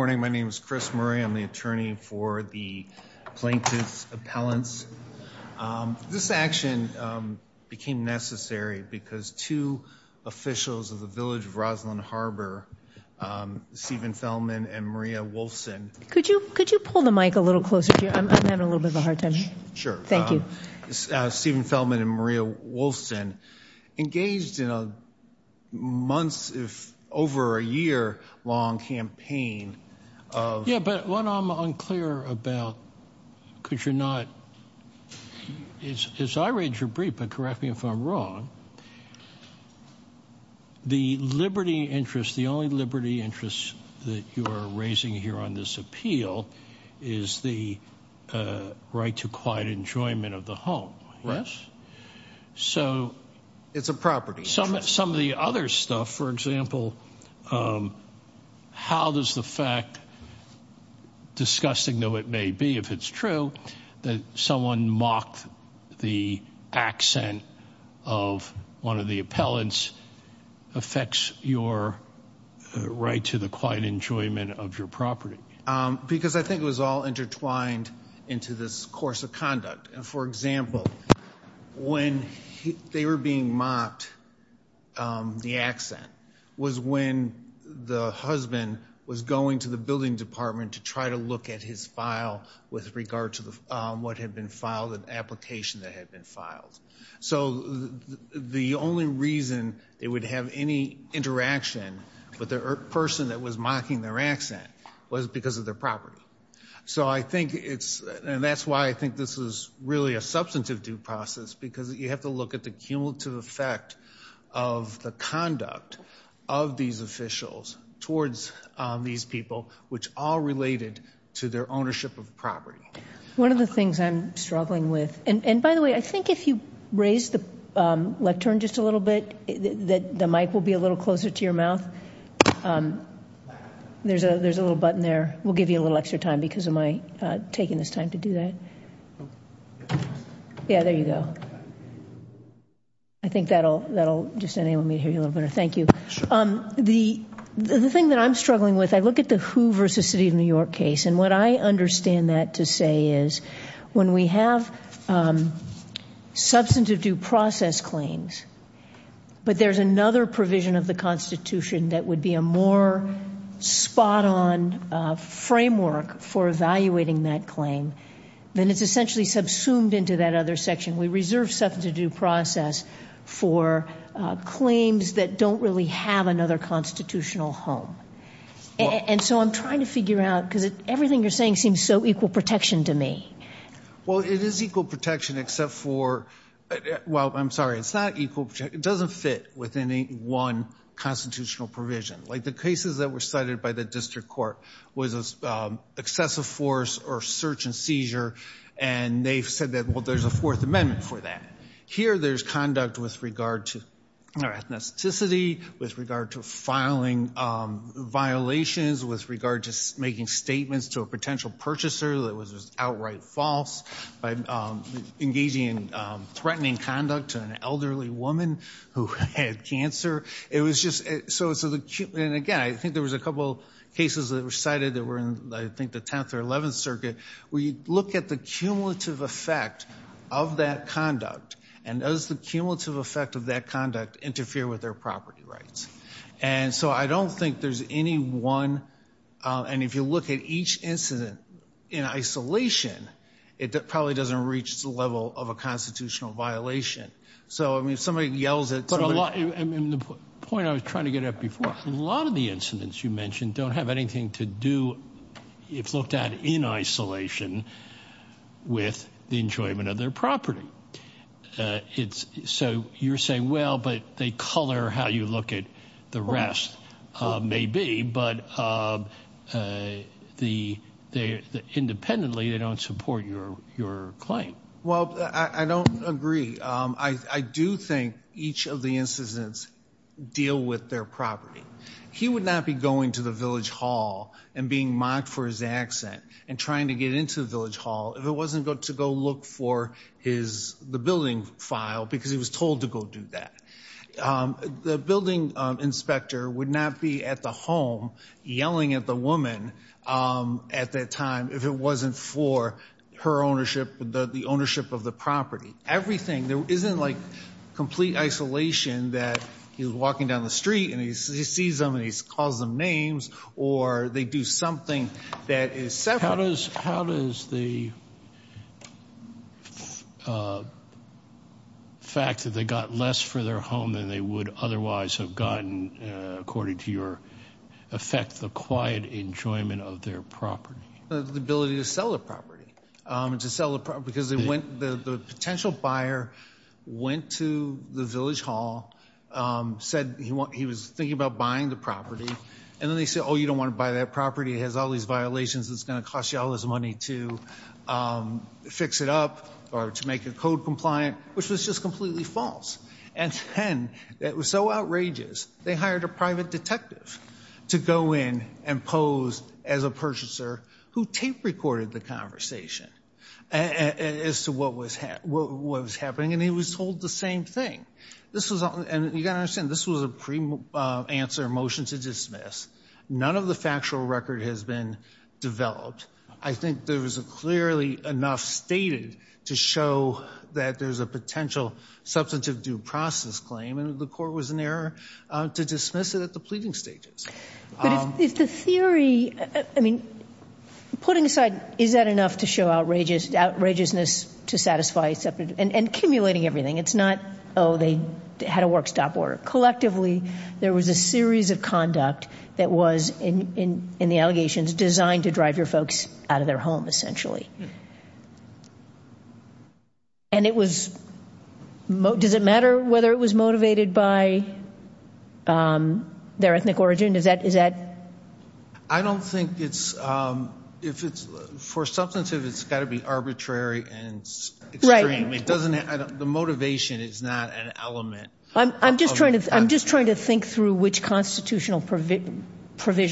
Good morning, my name is Chris Murray. I'm the attorney for the plaintiff's appellants. This action became necessary because two officials of the Village of Roslyn Harbor, Stephen Feldman and Maria Wolfson, could you could you pull the mic a little closer? I'm having a little bit of a hard time. Sure. Thank you. Stephen Feldman and Maria Wolfson engaged in a months, if over a year long campaign of... Yeah, but what I'm unclear about, because you're not, as I read your brief, but correct me if I'm wrong, the liberty interest, the only liberty interest that you are raising here on this appeal, is the right to quiet enjoyment of the home. Right. So... It's a property. Some of the other stuff, for example, how does the fact, disgusting though it may be if it's true, that someone mocked the accent of one of the appellants affects your right to the quiet enjoyment of your property? Because I think it was all intertwined into this course of conduct. And for example, when they were being mocked, the accent was when the husband was going to the building department to try to look at his file with regard to what had been filed, an application that had been filed. So the only reason they would have any interaction with the person that was mocking their accent was because of their property. So I think it's, and that's why I think this is really a substantive due process, because you have to look at the cumulative effect of the conduct of these officials towards these people, which all related to their ownership of property. One of the things I'm struggling with, and by the way, I think if you raise the lectern just a little bit, that the mic will be a little closer to your mouth. There's a there's a little button there. We'll give you a little extra time because of my taking this time to do that. Yeah, there you go. I think that'll just enable me to hear you a little better. Thank you. The thing that I'm struggling with, I look at the Who versus City of New York case, and what I understand that to say is when we have substantive due process claims, but there's another provision of the Constitution that would be a more spot on framework for evaluating that claim, then it's essentially subsumed into that other section. We reserve substantive due process for claims that don't really have another constitutional home. And so I'm trying to figure out, because everything you're saying seems so equal protection to me. Well, it is equal protection except for, well, I'm sorry, it's not equal protection. It doesn't fit with any one constitutional provision. Like the cases that were cited by the District Court was excessive force or search-and-seizure, and they've said that well, there's a Fourth Amendment for that. Here there's conduct with regard to ethnicity, with regard to filing violations, with regard to making statements to a potential purchaser that was just outright false, by engaging in threatening conduct to an elderly woman who had cancer. It was just, so it's a again, I think there was a couple cases that were cited that were in, I think, the 10th or 11th Circuit, where you look at the cumulative effect of that conduct, and does the cumulative effect of that conduct interfere with their property rights? And so I don't think there's any one, and if you look at each incident in isolation, it probably doesn't reach the level of a constitutional violation. So, I lot of the incidents you mentioned don't have anything to do, if looked at in isolation, with the enjoyment of their property. It's, so you're saying, well, but they color how you look at the rest. Maybe, but the, they, independently, they don't support your claim. Well, I don't agree. I do think each of the incidents deal with their property. He would not be going to the village hall and being mocked for his accent, and trying to get into the village hall, if it wasn't good to go look for his, the building file, because he was told to go do that. The building inspector would not be at the home, yelling at the woman, at that time, if it wasn't for her ownership, the ownership of the property. Everything. There isn't, like, complete isolation, that he was walking down the street, and he sees them, and he calls them names, or they do something that is separate. How does, how does the fact that they got less for their home than they would otherwise have gotten, according to your effect, the quiet enjoyment of their property? The ability to sell the property, to sell the property, because they went, the potential buyer went to the village hall, said he was thinking about buying the property, and then they said, oh, you don't want to buy that property. It has all these violations. It's going to cost you all this money to fix it up, or to make it code compliant, which was just completely false. And then, it was so outrageous, they hired a private detective to go in and pose as a what was happening, and he was told the same thing. This was, and you got to understand, this was a pre-answer motion to dismiss. None of the factual record has been developed. I think there was a clearly enough stated to show that there's a potential substantive due process claim, and the court was in error to dismiss it at the pleading stages. But if the theory, I mean, putting aside, is that enough to show outrageousness to satisfy, and accumulating everything? It's not, oh, they had a work-stop order. Collectively, there was a series of conduct that was, in the allegations, designed to drive your folks out of their home, essentially. And it was, does it matter whether it was motivated by their ethnic origin? Is that? I don't think it's, if it's, for substantive, it's got to be arbitrary and extreme. It doesn't, the motivation is not an element. I'm just trying to, I'm just trying to think through which constitutional provision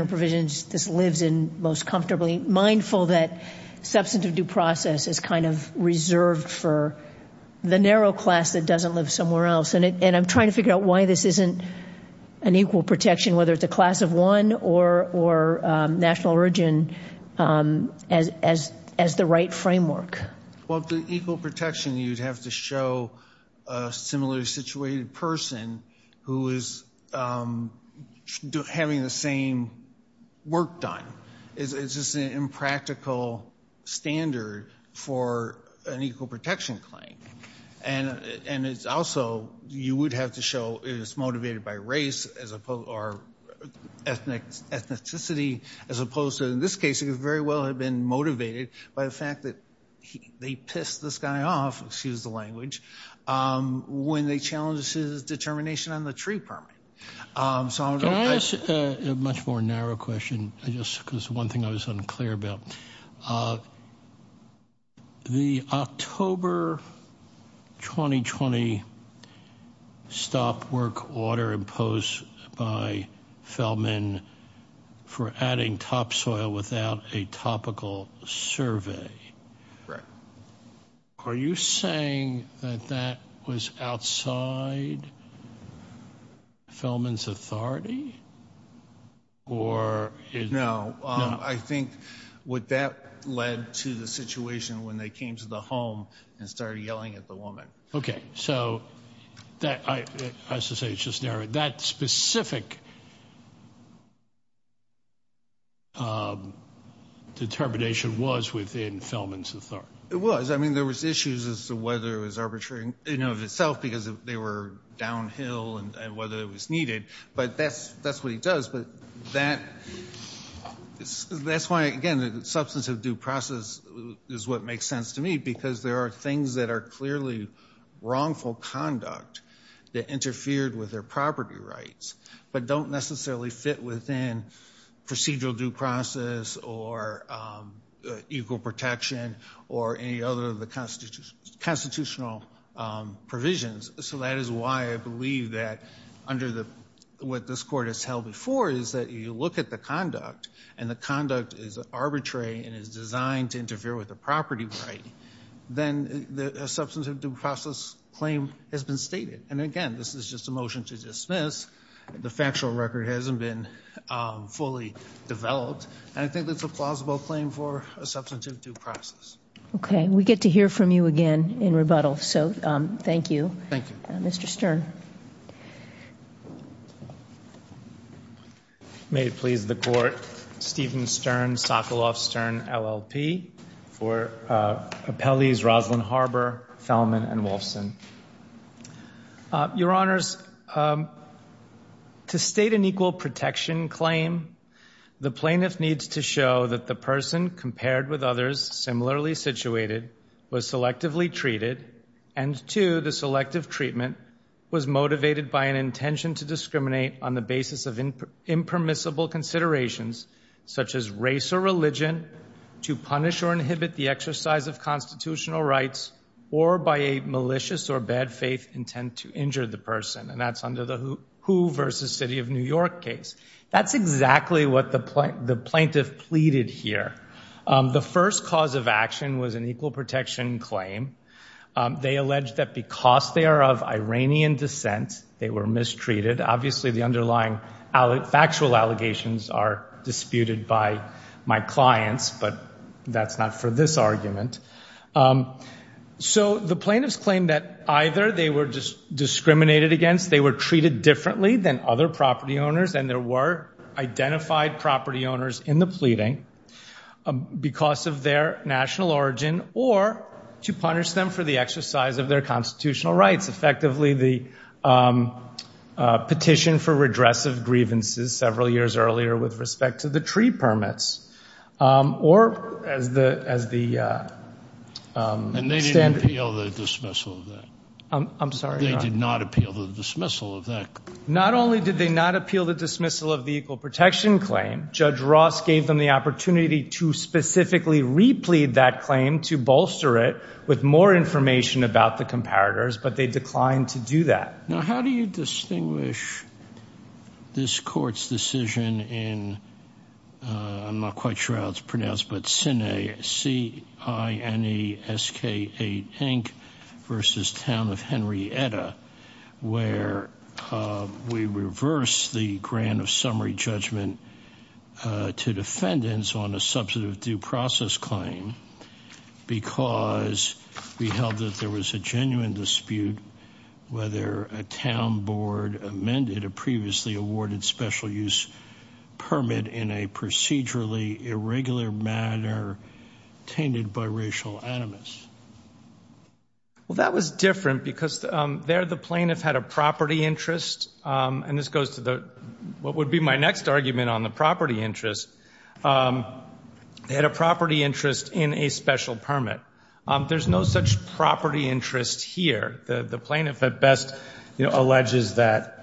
or provisions this lives in most comfortably, mindful that substantive due process is kind of reserved for the narrow class that lives somewhere else. And I'm trying to figure out why this isn't an equal protection, whether it's a class of one or national origin, as the right framework. Well, the equal protection, you'd have to show a similarly situated person who is having the same work done. It's just an impractical standard for an equal protection claim. And it's also, you would have to show it's motivated by race, as opposed, or ethnicity, as opposed to, in this case, it very well had been motivated by the fact that they pissed this guy off, excuse the language, when they challenged his determination on the tree permit. So I'm going to... Can I ask a much more narrow question, just because one thing I was unclear about. The October 2020 stop work order imposed by Fellman for adding topsoil without a topical survey. Are you saying that that was outside Fellman's authority? No, I think what that led to the situation when they came to the home and started yelling at the woman. Okay, so that, I was to say it's just narrow. That specific determination was within Fellman's authority. It was. I mean, there was issues as to whether it was arbitrary in and of itself, because they were downhill, and whether it was needed. But that's what he does. But that's why, again, the substance of due process is what makes sense to me, because there are things that are clearly wrongful conduct that interfered with their property rights, but don't necessarily fit within procedural due process, or equal protection, or any other of the constitutional provisions. So that is why I believe that under the, what this court has held before, is that you look at the conduct, and the conduct is arbitrary and is designed to interfere with the property right, then the substance of due process claim has been And again, this is just a motion to dismiss. The factual record hasn't been fully developed, and I think that's a plausible claim for a substance of due process. Okay, we get to hear from you again in rebuttal. So, thank you. Thank you. Mr. Stern. May it please the court, Steven Stern, Sokoloff Stern, LLP, for Appellees Roslyn Harbor, Thelman, and Wolfson. Your Honors, to state an equal protection claim, the plaintiff needs to show that the person, compared with others similarly situated, was selectively treated, and two, the selective treatment was motivated by an intention to discriminate on the basis of impermissible considerations, such as race or religion, to punish or inhibit the exercise of constitutional rights, or by a malicious or bad faith intent to injure the person, and that's under the Who versus City of New York case. That's exactly what the plaintiff pleaded here. The first cause of action was an equal protection claim. They alleged that because they are of Iranian descent, they were mistreated. Obviously, the underlying factual allegations are disputed by my clients, but that's not for this argument. So, the plaintiffs claim that either they were just discriminated against, they were treated differently than other property owners, and there were identified property owners in the pleading because of their national origin, or to punish them for the exercise of their constitutional rights. Effectively, the petition for redress of grievances several years earlier with respect to the tree permits, or as the standard... And they didn't appeal the dismissal of that? I'm sorry? They did not appeal the dismissal of that? Not only did they not appeal the dismissal of the equal protection claim, Judge Ross gave them the opportunity to specifically replead that claim to bolster it with more information about the comparators, but they declined to do that. Now, how do you distinguish this court's decision in, I'm not quite sure how it's pronounced, but Sine S-K-8, versus Town of Henrietta, where we reverse the grant of summary judgment to defendants on a substantive due process claim, because we held that there was a genuine dispute whether a town board amended a previously awarded special-use permit in a procedurally irregular manner tainted by racial animus? Well, that was different because there the plaintiff had a property interest, and this goes to what would be my next argument on the interest. They had a property interest in a special permit. There's no such property interest here. The plaintiff, at best, alleges that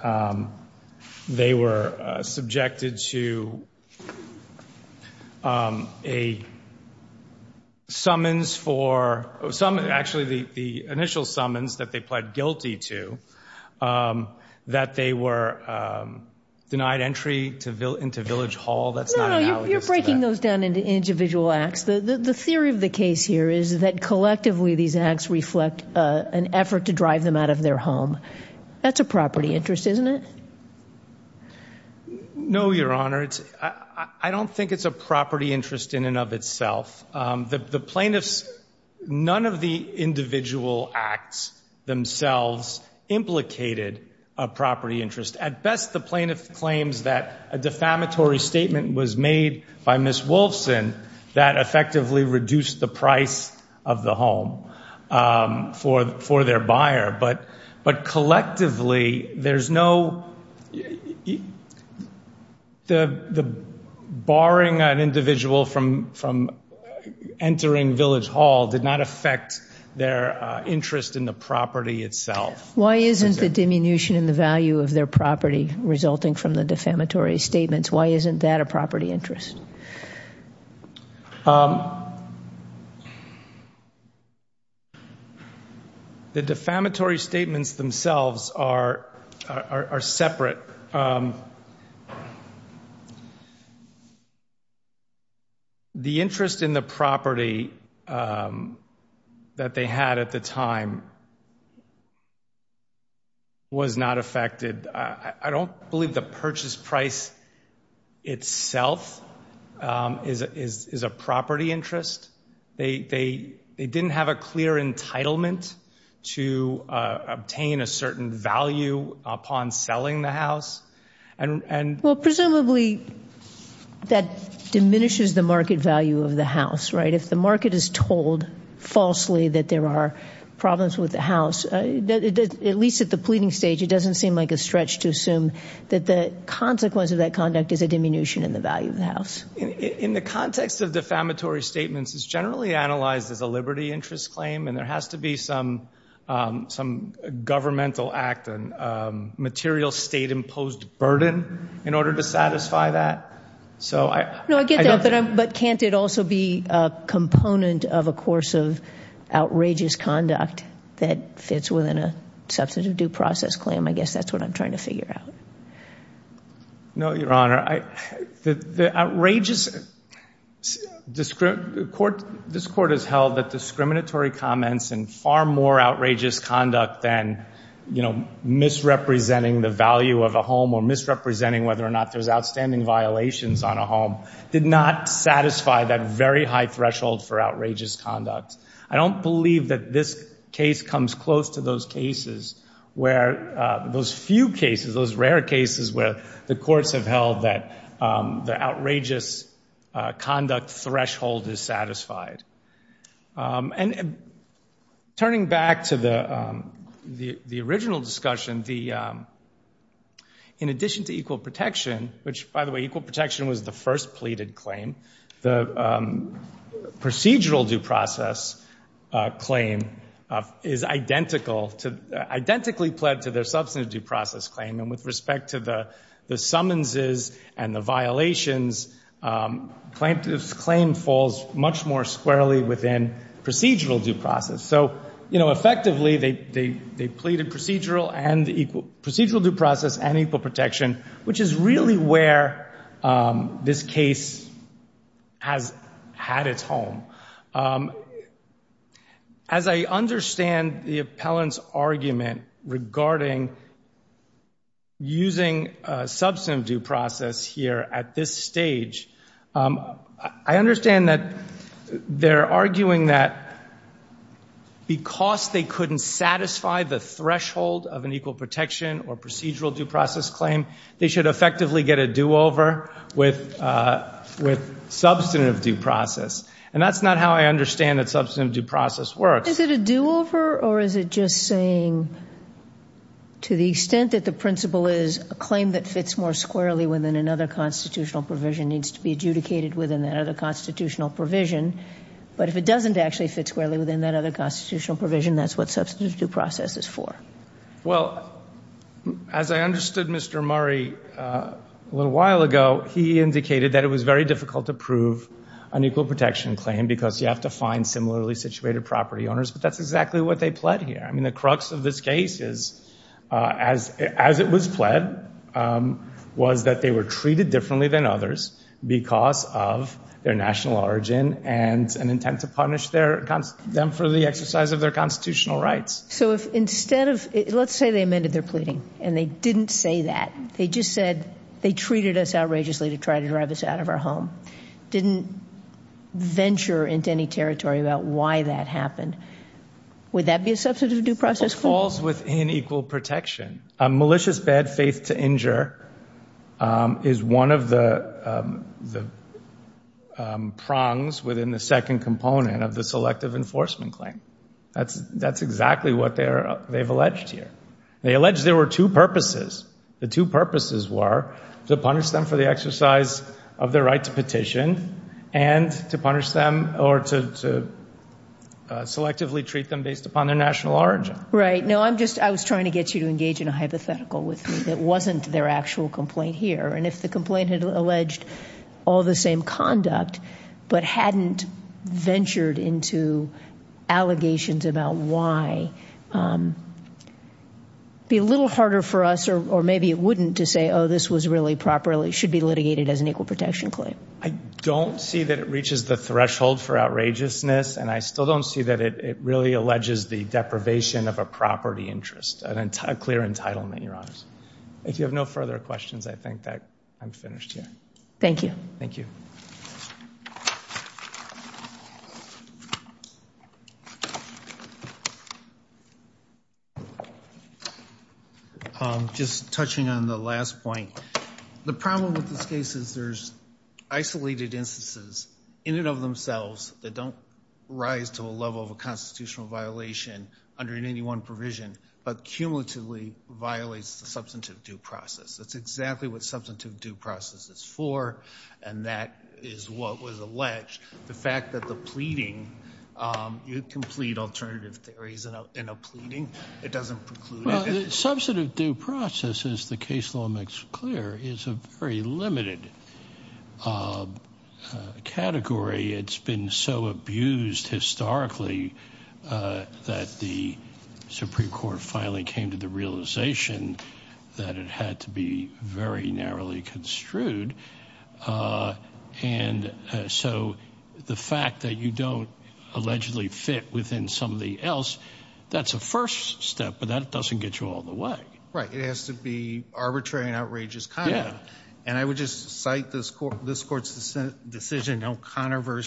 they were subjected to a summons for... Actually, the initial summons that they were guilty to, that they were denied entry into Village Hall. No, you're breaking those down into individual acts. The theory of the case here is that, collectively, these acts reflect an effort to drive them out of their home. That's a property interest, isn't it? No, Your Honor. I don't think it's a property interest in and of itself. The implicated a property interest. At best, the plaintiff claims that a defamatory statement was made by Ms. Wolfson that effectively reduced the price of the home for their buyer, but collectively, there's no... The barring an individual from entering Village Hall did not affect their interest in the property itself. Why isn't the diminution in the value of their property resulting from the defamatory statements? Why isn't that a property interest? The defamatory statements themselves are separate. The interest in the property that they had at the time was not affected. I don't believe the purchase price itself is a property interest. They didn't have a clear entitlement to obtain a certain value upon selling the house. Presumably, that diminishes the market value of the house, right? If the market is told falsely that there are problems with the house, at least at the pleading stage, it doesn't seem like a stretch to assume that the consequence of that conduct is a diminution in the value of the house. In the context of defamatory statements, it's generally analyzed as a liberty interest claim, and there has to be some governmental act, a material state-imposed burden in order to satisfy that. I get that, but can't it also be a component of a course of outrageous conduct that fits within a substantive due process claim? I guess that's what I'm trying to figure out. No, Your Honor, the outrageous, this Court has held that discriminatory comments and far more outrageous conduct than, you know, misrepresenting the value of a home or misrepresenting whether or not there's outstanding violations on a home did not satisfy that very high threshold for outrageous conduct. I don't believe that this case comes close to those cases where, those few cases, those rare cases where the courts have held that the outrageous conduct threshold is satisfied. And turning back to the original discussion, in addition to equal protection, which by the way, equal protection was the first pleaded claim, the procedural due process claim is identical to, identically pled to their substantive due process claim. And with respect to the summonses and the violations, plaintiff's claim falls much more squarely within procedural due process. So, you know, effectively they pleaded procedural and equal, procedural due process and equal protection, which is really where this case has had its home. As I understand the appellant's argument regarding using substantive due process here at this stage, I understand that they're arguing that because they couldn't satisfy the threshold of an equal protection or procedural due process claim, they should effectively get a do-over with, with substantive due process. And that's not how I understand that substantive due process works. Is it a do-over or is it just saying, to the extent that the principle is a claim that fits more squarely within another constitutional provision needs to be adjudicated within that other constitutional provision, but if it doesn't actually fit squarely within that other constitutional provision, that's what substantive due process is for? Well, as I understood Mr. Murray a little while ago, he indicated that it was very difficult to prove an equal protection claim because you have to find similarly situated property owners, but that's exactly what they pled here. I mean, the crux of this case is, as it was pled, was that they were treated differently than others because of their national origin and an intent to punish them for the exercise of their constitutional rights. So if instead of, let's say they amended their pleading and they didn't say that, they just said they treated us outrageously to try to drive us out of our home, didn't venture into any territory about why that happened, would that be a substantive due process for them? It falls within equal protection. A malicious bad faith to injure is one of the prongs within the second component of the selective enforcement claim. That's exactly what they've alleged here. They allege there were two purposes. The two purposes were to punish them for the exercise of their right to petition and to punish them or to selectively treat them based upon their national origin. Right. No, I'm just, I was trying to get you to engage in a hypothetical with me that wasn't their actual complaint here. And if the complaint had alleged all the same conduct, but hadn't ventured into allegations about why, it'd be a little harder for us, or maybe it wouldn't, to say, oh, this was really properly, should be litigated as an equal protection claim. I don't see that it reaches the threshold for outrageousness. And I still don't see that it really alleges the deprivation of a property interest, a clear entitlement, Your Honors. If you have no further questions, I think that I'm finished here. Thank you. Thank you. Just touching on the last point. The problem with this case is there's isolated instances in and of themselves that don't rise to a level of a constitutional violation under an 81 provision, but cumulatively violates the substantive due process. That's exactly what substantive due process is for, and that is what was alleged. The fact that the pleading, you can plead alternative theories in a pleading, it doesn't preclude it. Substantive due process, as the case law makes clear, is a very limited category. It's been so abused historically that the Supreme Court finally came to the realization that it had to be very narrowly construed. And so the fact that you don't allegedly fit within some of the else, that's a first step, but that doesn't get you all the way. Right. It has to be arbitrary and outrageous conduct. And I would just cite this court's decision, O'Connor v.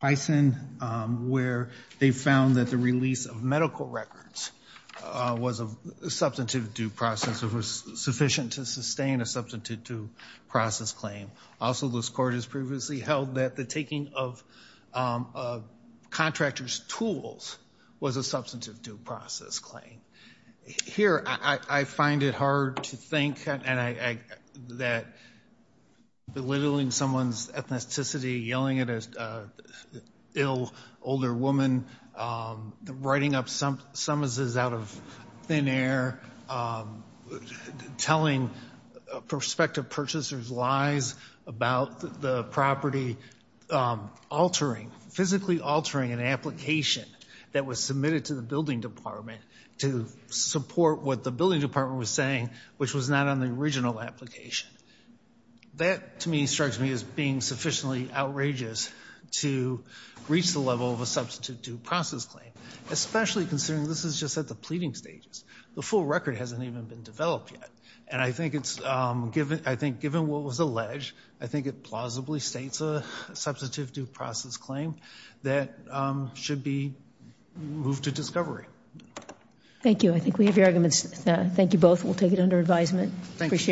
Bison, where they found that the release of medical records was a substantive due process. It was sufficient to sustain a substantive due process claim. Also, this court has previously held that the taking of contractors' tools was a substantive due process claim. Here, I find it hard to think that belittling someone's ethnicity, yelling at an ill, older woman, writing up summonses out of thin air, telling prospective purchasers lies about the property, altering, physically altering an application that was submitted to the building department to support what the building department was saying, which was not on the original application. That, to me, strikes me as being sufficiently outrageous to reach the level of a substantive due process claim, especially considering this is just at the pleading stages. The full record hasn't even been developed yet, and I think it's given what was alleged, I think it plausibly states a substantive due process claim that should be moved to discovery. Thank you. I think we have your arguments. Thank you both. We'll take it under advisement.